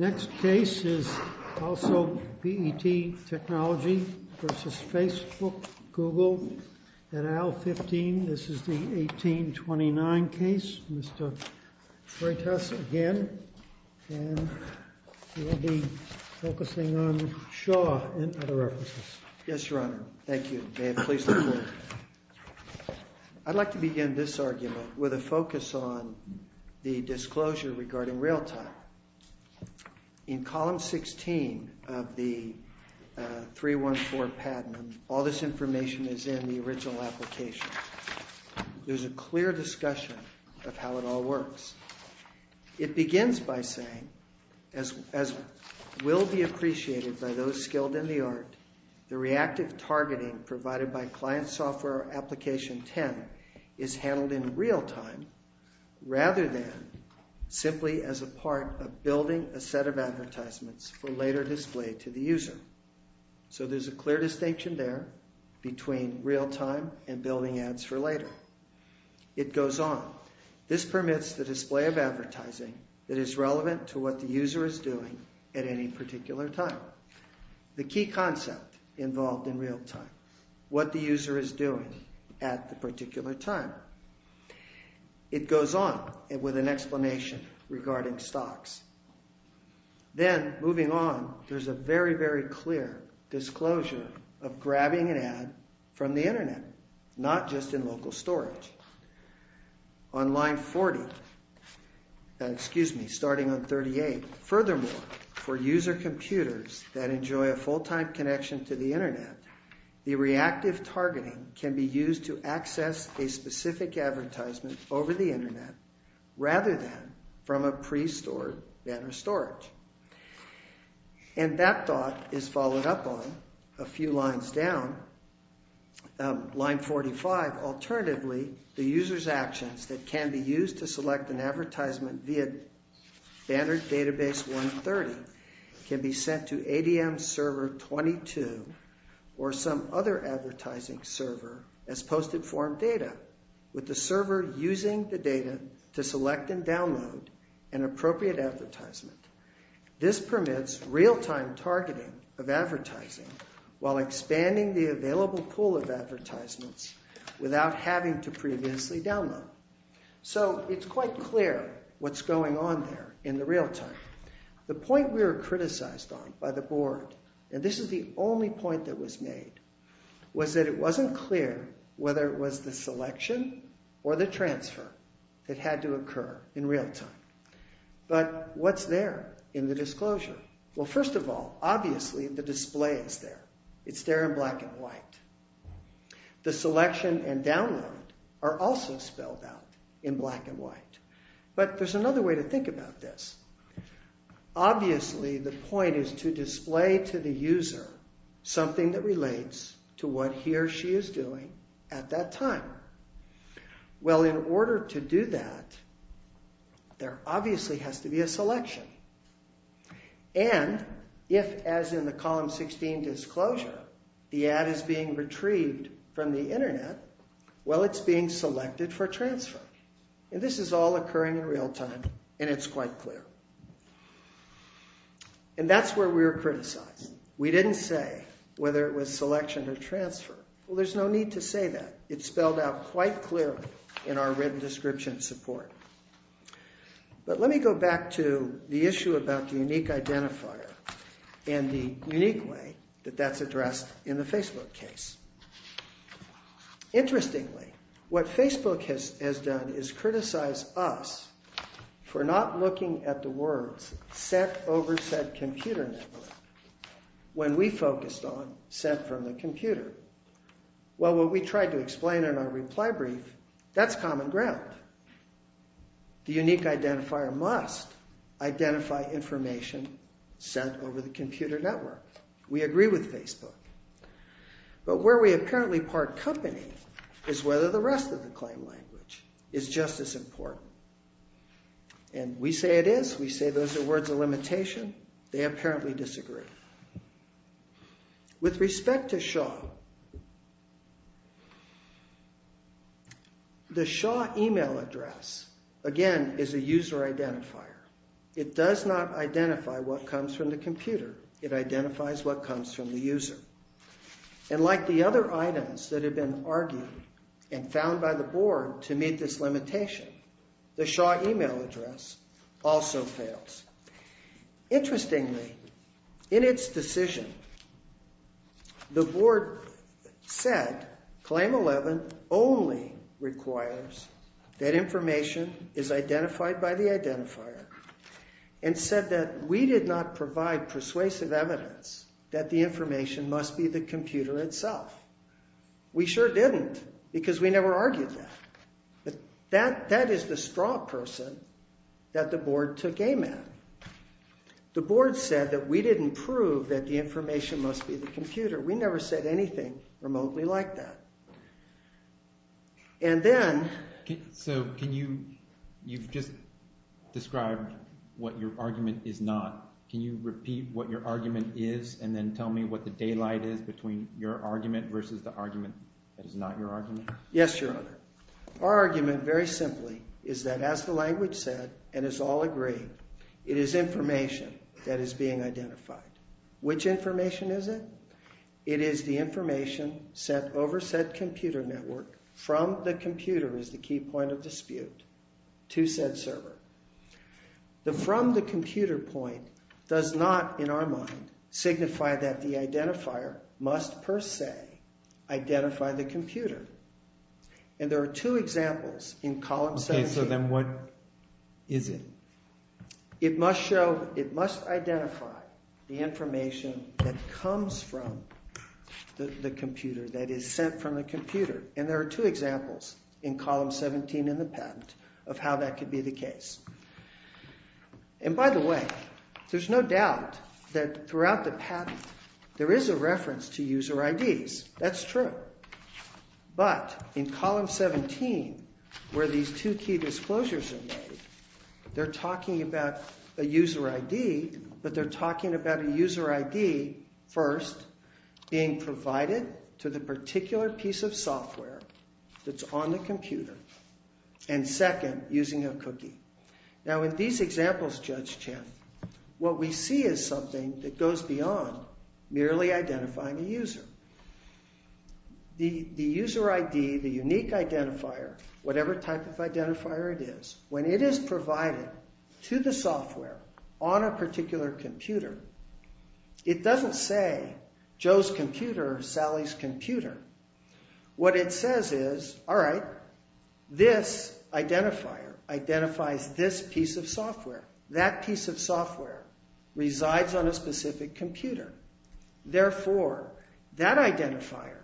Next case is also BET Technology versus Facebook, Google, at Aisle 15. This is the 1829 case, Mr. Freitas, again. And we'll be focusing on Shaw and other references. Yes, Your Honor. Thank you. May it please the Court. I'd like to begin this argument with a focus on the disclosure regarding real time. In column 16 of the 314 patent, all this information is in the original application. There's a clear discussion of how it all works. It begins by saying, as will be appreciated by those skilled in the art, the reactive targeting provided by client software application 10 is handled in real time rather than simply as a part of building a set of advertisements for later display to the user. So there's a clear distinction there between real time and building ads for later. It goes on. This permits the display of advertising that is relevant to what the user is doing at any particular time. The key concept involved in real time, what the user is doing at the particular time. It goes on with an explanation regarding stocks. Then, moving on, there's a very, very clear disclosure of grabbing an ad from the Internet, not just in local storage. On line 40, excuse me, starting on 38, furthermore, for user computers that enjoy a full time connection to the Internet, the reactive targeting can be used to access a specific advertisement over the Internet rather than from a pre-stored Banner storage. And that thought is followed up on a few lines down. Line 45, alternatively, the user's actions that can be used to select an advertisement via Banner database 130 can be sent to ADM server 22 or some other advertising server as posted form data with the server using the data to select and download an appropriate advertisement. This permits real time targeting of advertising while expanding the available pool of advertisements without having to previously download. So it's quite clear what's going on there in the real time. The point we were criticized on by the board, and this is the only point that was made, was that it wasn't clear whether it was the selection or the transfer that had to occur in real time. But what's there in the disclosure? Well, first of all, obviously the display is there. It's there in black and white. The selection and download are also spelled out in black and white. But there's another way to think about this. Obviously, the point is to display to the user something that relates to what he or she is doing at that time. Well, in order to do that, there obviously has to be a selection. And if, as in the column 16 disclosure, the ad is being retrieved from the Internet, well, it's being selected for transfer. And this is all occurring in real time, and it's quite clear. And that's where we were criticized. We didn't say whether it was selection or transfer. Well, there's no need to say that. It's spelled out quite clearly in our written description support. But let me go back to the issue about the unique identifier and the unique way that that's addressed in the Facebook case. Interestingly, what Facebook has done is criticize us for not looking at the words set over said computer network when we focused on set from the computer. Well, what we tried to explain in our reply brief, that's common ground. The unique identifier must identify information set over the computer network. We agree with Facebook. But where we apparently part company is whether the rest of the claim language is just as important. And we say it is. We say those are words of limitation. They apparently disagree. With respect to Shaw, the Shaw email address, again, is a user identifier. It does not identify what comes from the computer. It identifies what comes from the user. And like the other items that have been argued and found by the board to meet this limitation, the Shaw email address also fails. Interestingly, in its decision, the board said Claim 11 only requires that information is identified by the identifier and said that we did not provide persuasive evidence that the information must be the computer itself. We sure didn't because we never argued that. That is the straw person that the board took aim at. The board said that we didn't prove that the information must be the computer. We never said anything remotely like that. So you've just described what your argument is not. Can you repeat what your argument is and then tell me what the daylight is between your argument versus the argument that is not your argument? Yes, Your Honor. Our argument, very simply, is that as the language said and as all agree, it is information that is being identified. Which information is it? It is the information sent over said computer network from the computer, is the key point of dispute, to said server. The from the computer point does not, in our mind, signify that the identifier must per se identify the computer. And there are two examples in column 17. Okay, so then what is it? It must show, it must identify the information that comes from the computer, that is sent from the computer. And there are two examples in column 17 in the patent of how that could be the case. And by the way, there's no doubt that throughout the patent there is a reference to user IDs. That's true. But in column 17, where these two key disclosures are made, they're talking about a user ID, but they're talking about a user ID, first, being provided to the particular piece of software that's on the computer, and second, using a cookie. Now in these examples, Judge Chen, what we see is something that goes beyond merely identifying a user. The user ID, the unique identifier, whatever type of identifier it is, when it is provided to the software on a particular computer, it doesn't say Joe's computer or Sally's computer. What it says is, all right, this identifier identifies this piece of software. That piece of software resides on a specific computer. Therefore, that identifier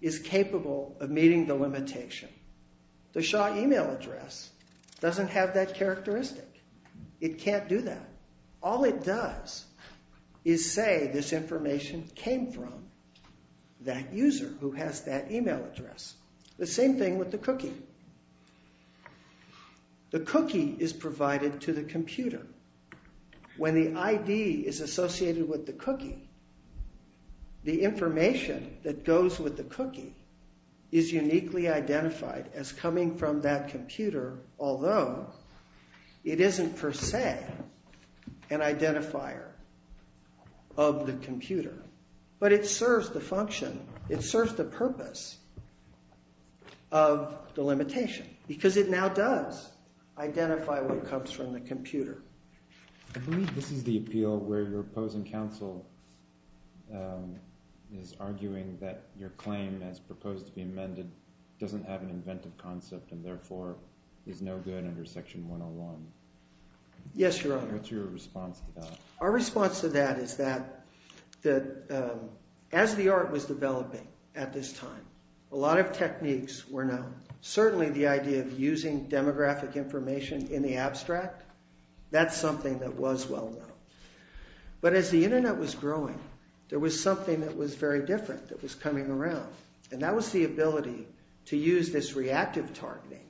is capable of meeting the limitation. The Shaw email address doesn't have that characteristic. It can't do that. All it does is say this information came from that user who has that email address. The same thing with the cookie. The cookie is provided to the computer. When the ID is associated with the cookie, the information that goes with the cookie is uniquely identified as coming from that computer, although it isn't per se an identifier of the computer. But it serves the function, it serves the purpose of the limitation because it now does identify what comes from the computer. I believe this is the appeal where your opposing counsel is arguing that your claim as proposed to be amended doesn't have an inventive concept and therefore is no good under Section 101. Yes, Your Honor. What's your response to that? Our response to that is that as the art was developing at this time, a lot of techniques were known. Certainly the idea of using demographic information in the abstract, that's something that was well known. But as the Internet was growing, there was something that was very different that was coming around, and that was the ability to use this reactive targeting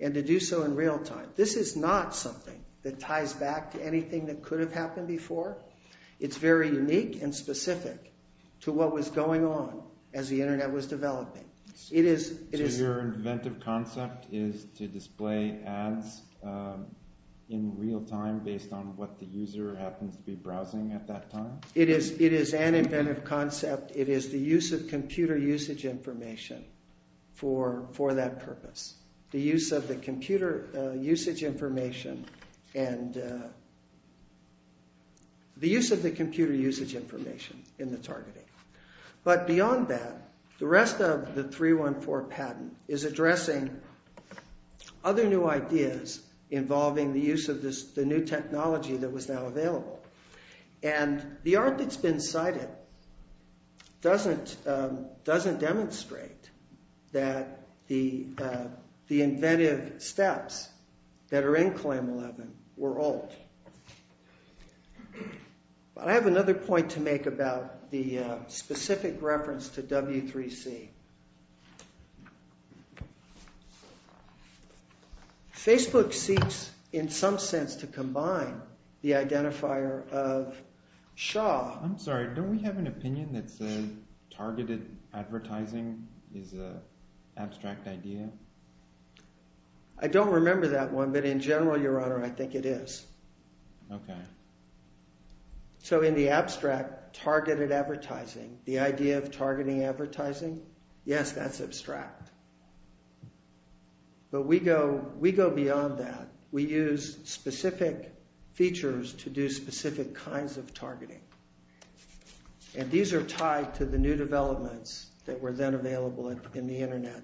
and to do so in real time. This is not something that ties back to anything that could have happened before. It's very unique and specific to what was going on as the Internet was developing. So your inventive concept is to display ads in real time based on what the user happens to be browsing at that time? It is an inventive concept. It is the use of computer usage information for that purpose. The use of the computer usage information in the targeting. But beyond that, the rest of the 314 patent is addressing other new ideas involving the use of the new technology that was now available. And the art that's been cited doesn't demonstrate that the inventive steps that are in Claim 11 were old. I have another point to make about the specific reference to W3C. Facebook seeks, in some sense, to combine the identifier of Shaw. I'm sorry, don't we have an opinion that says targeted advertising is an abstract idea? I don't remember that one, but in general, Your Honor, I think it is. Okay. So in the abstract, targeted advertising, the idea of targeting advertising, yes, that's abstract. But we go beyond that. We use specific features to do specific kinds of targeting. And these are tied to the new developments that were then available in the Internet.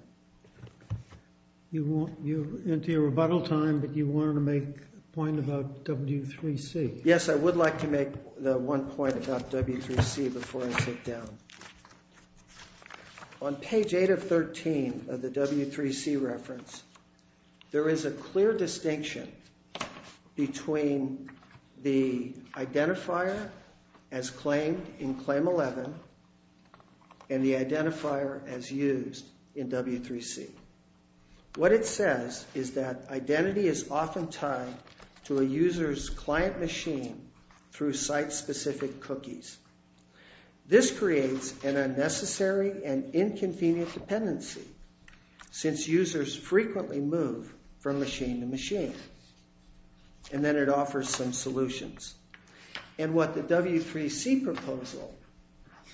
You're into your rebuttal time, but you wanted to make a point about W3C. Yes, I would like to make one point about W3C before I sit down. On page 8 of 13 of the W3C reference, there is a clear distinction between the identifier as claimed in Claim 11 and the identifier as used in W3C. What it says is that identity is often tied to a user's client machine through site-specific cookies. This creates an unnecessary and inconvenient dependency since users frequently move from machine to machine. And then it offers some solutions. And what the W3C proposal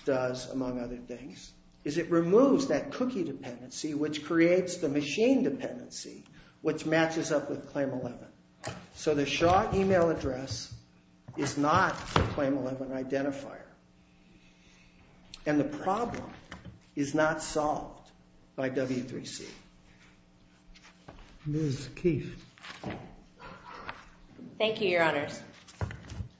does, among other things, is it removes that cookie dependency, which creates the machine dependency, which matches up with Claim 11. So the Shaw email address is not the Claim 11 identifier. And the problem is not solved by W3C. Ms. Keefe. Thank you, Your Honors.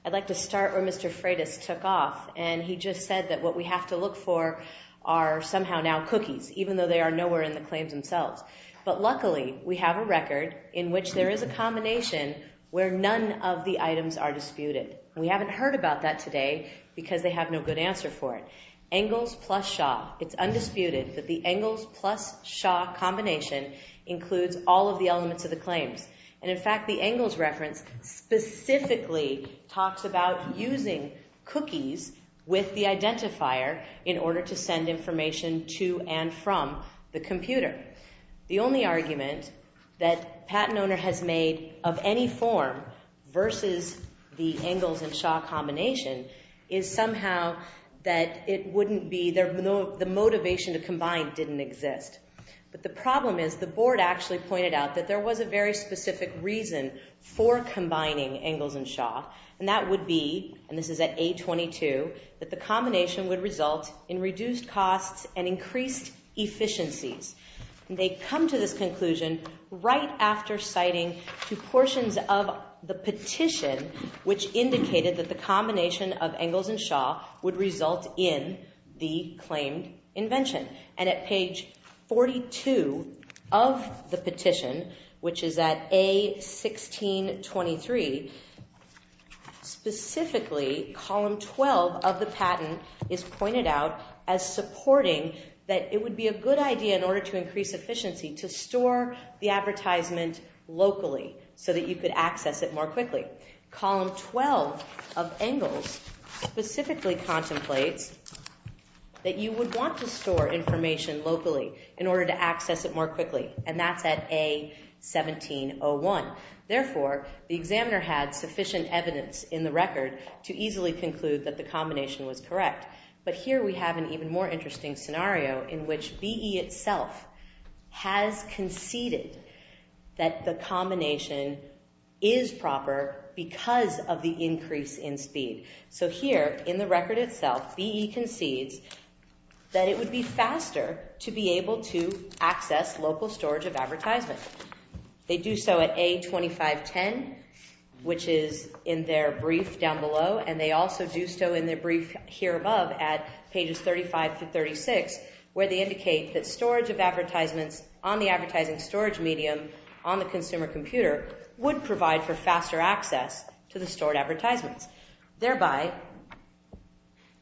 I'd like to start where Mr. Freitas took off, and he just said that what we have to look for are somehow now cookies, even though they are nowhere in the claims themselves. But luckily, we have a record in which there is a combination where none of the items are disputed. We haven't heard about that today because they have no good answer for it. Engels plus Shaw. It's undisputed that the Engels plus Shaw combination includes all of the elements of the claims. And in fact, the Engels reference specifically talks about using cookies with the identifier in order to send information to and from the computer. The only argument that a patent owner has made of any form versus the Engels and Shaw combination is somehow that the motivation to combine didn't exist. But the problem is the Board actually pointed out that there was a very specific reason for combining Engels and Shaw, and that would be, and this is at A22, that the combination would result in reduced costs and increased efficiencies. And they come to this conclusion right after citing two portions of the petition, which indicated that the combination of Engels and Shaw would result in the claimed invention. And at page 42 of the petition, which is at A1623, specifically column 12 of the patent is pointed out as supporting that it would be a good idea in order to increase efficiency to store the advertisement locally so that you could access it more quickly. Column 12 of Engels specifically contemplates that you would want to store information locally in order to access it more quickly. And that's at A1701. Therefore, the examiner had sufficient evidence in the record to easily conclude that the combination was correct. But here we have an even more interesting scenario in which BE itself has conceded that the combination is proper because of the increase in speed. So here in the record itself, BE concedes that it would be faster to be able to access local storage of advertisement. They do so at A2510, which is in their brief down below. And they also do so in their brief here above at pages 35 through 36, where they indicate that storage of advertisements on the advertising storage medium on the consumer computer would provide for faster access to the stored advertisements, thereby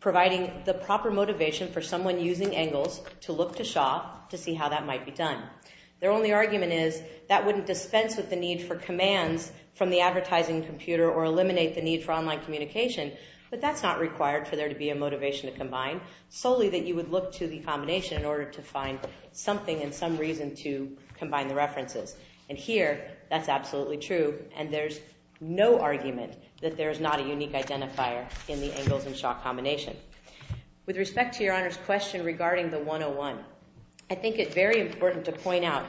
providing the proper motivation for someone using Engels to look to Shaw to see how that might be done. Their only argument is that wouldn't dispense with the need for commands from the advertising computer or eliminate the need for online communication. But that's not required for there to be a motivation to combine, solely that you would look to the combination in order to find something and some reason to combine the references. And here, that's absolutely true. And there's no argument that there is not a unique identifier in the Engels and Shaw combination. With respect to Your Honor's question regarding the 101, I think it's very important to point out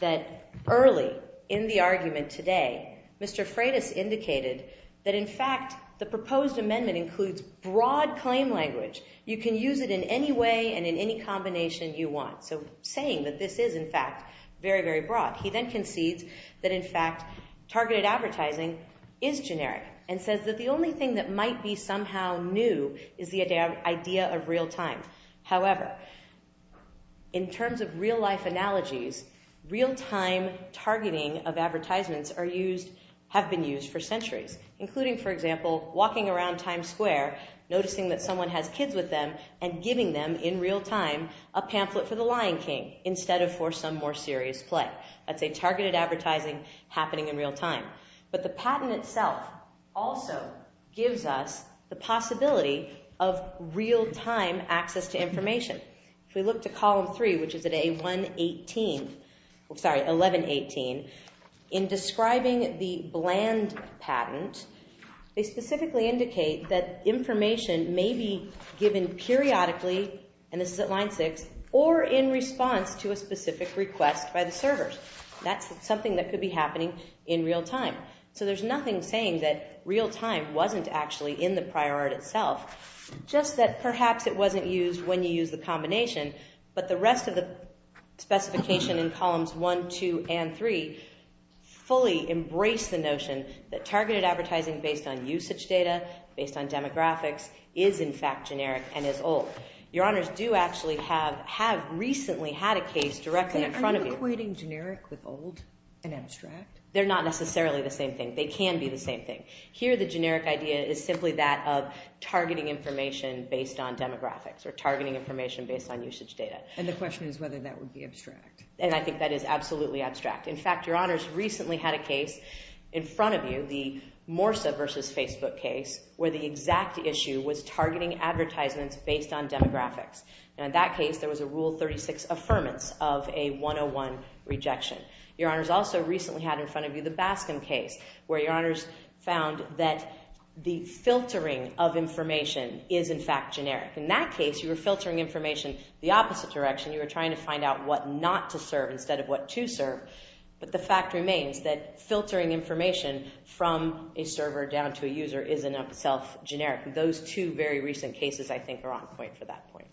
that early in the argument today, Mr. Freitas indicated that, in fact, the proposed amendment includes broad claim language. You can use it in any way and in any combination you want. So saying that this is, in fact, very, very broad. He then concedes that, in fact, targeted advertising is generic and says that the only thing that might be somehow new is the idea of real time. However, in terms of real life analogies, real time targeting of advertisements have been used for centuries, including, for example, walking around Times Square noticing that someone has kids with them and giving them in real time a pamphlet for The Lion King instead of for some more serious play. That's a targeted advertising happening in real time. But the patent itself also gives us the possibility of real time access to information. If we look to column three, which is at A1118, in describing the bland patent, they specifically indicate that information may be given periodically, and this is at line six, or in response to a specific request by the servers. That's something that could be happening in real time. So there's nothing saying that real time wasn't actually in the prior art itself, just that perhaps it wasn't used when you used the combination. But the rest of the specification in columns one, two, and three fully embrace the notion that targeted advertising based on usage data, based on demographics, is, in fact, generic and is old. Your Honors do actually have recently had a case directly in front of you. Are you equating generic with old and abstract? They're not necessarily the same thing. They can be the same thing. Here the generic idea is simply that of targeting information based on demographics or targeting information based on usage data. And the question is whether that would be abstract. And I think that is absolutely abstract. In fact, Your Honors recently had a case in front of you, the Morsa versus Facebook case, where the exact issue was targeting advertisements based on demographics. And in that case, there was a Rule 36 affirmance of a 101 rejection. Your Honors also recently had in front of you the Baskin case, where Your Honors found that the filtering of information is, in fact, generic. In that case, you were filtering information the opposite direction. You were trying to find out what not to serve instead of what to serve. But the fact remains that filtering information from a server down to a user is, in itself, generic. Those two very recent cases, I think, are on point for that point.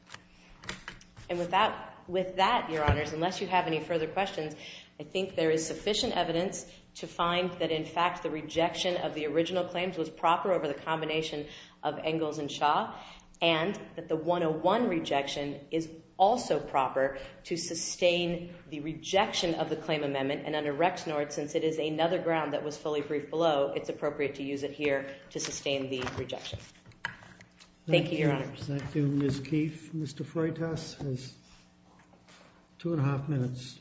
And with that, Your Honors, unless you have any further questions, I think there is sufficient evidence to find that, in fact, the rejection of the original claims was proper over the combination of Engels and Shaw and that the 101 rejection is also proper to sustain the rejection of the claim amendment. And under Rexnord, since it is another ground that was fully briefed below, it's appropriate to use it here to sustain the rejection. Thank you, Your Honors. Thank you, Ms. Keefe. Mr. Freitas has two and a half minutes.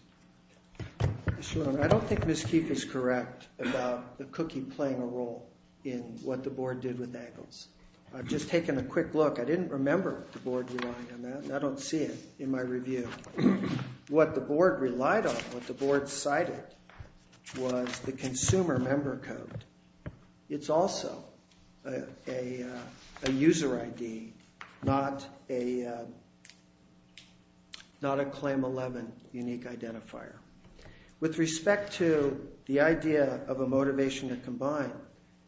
I don't think Ms. Keefe is correct about the cookie playing a role in what the Board did with Engels. I've just taken a quick look. I didn't remember the Board relied on that, and I don't see it in my review. What the Board relied on, what the Board cited, was the consumer member code. It's also a user ID, not a Claim 11 unique identifier. With respect to the idea of a motivation to combine,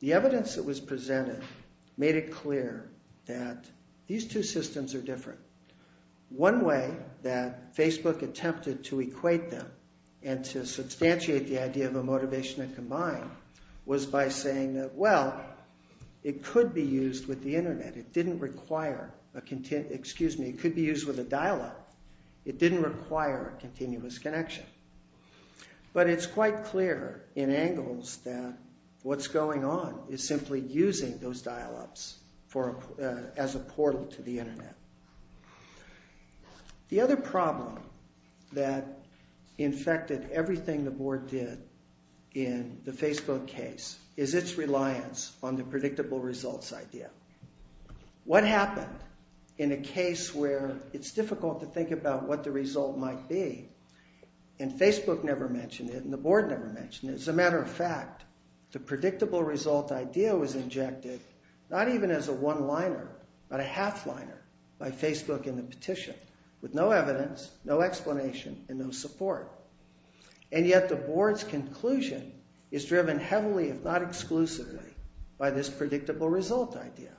the evidence that was presented made it clear that these two systems are different. One way that Facebook attempted to equate them and to substantiate the idea of a motivation to combine was by saying that, well, it could be used with the Internet. It didn't require, excuse me, it could be used with a dial-up. It didn't require a continuous connection. But it's quite clear in Engels that what's going on is simply using those dial-ups as a portal to the Internet. The other problem that infected everything the Board did in the Facebook case is its reliance on the predictable results idea. What happened in a case where it's difficult to think about what the result might be, and Facebook never mentioned it, and the Board never mentioned it, as a matter of fact, the predictable result idea was injected not even as a one-liner, but a half-liner by Facebook in the petition with no evidence, no explanation, and no support. And yet the Board's conclusion is driven heavily, if not exclusively, by this predictable result idea.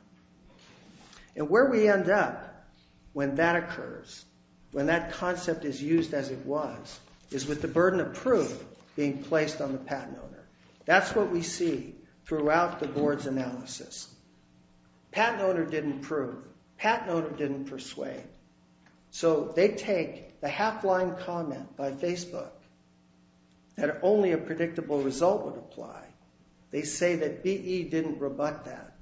And where we end up when that occurs, when that concept is used as it was, is with the burden of proof being placed on the patent owner. That's what we see throughout the Board's analysis. Patent owner didn't prove. Patent owner didn't persuade. So they take the half-line comment by Facebook that only a predictable result would apply. They say that BE didn't rebut that,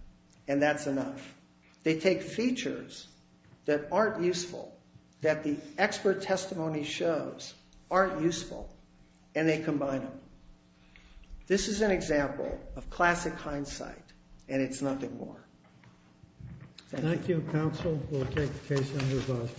and that's enough. They take features that aren't useful, that the expert testimony shows aren't useful, and they combine them. This is an example of classic hindsight, and it's nothing more. Thank you. Thank you, counsel. We'll take the case under review.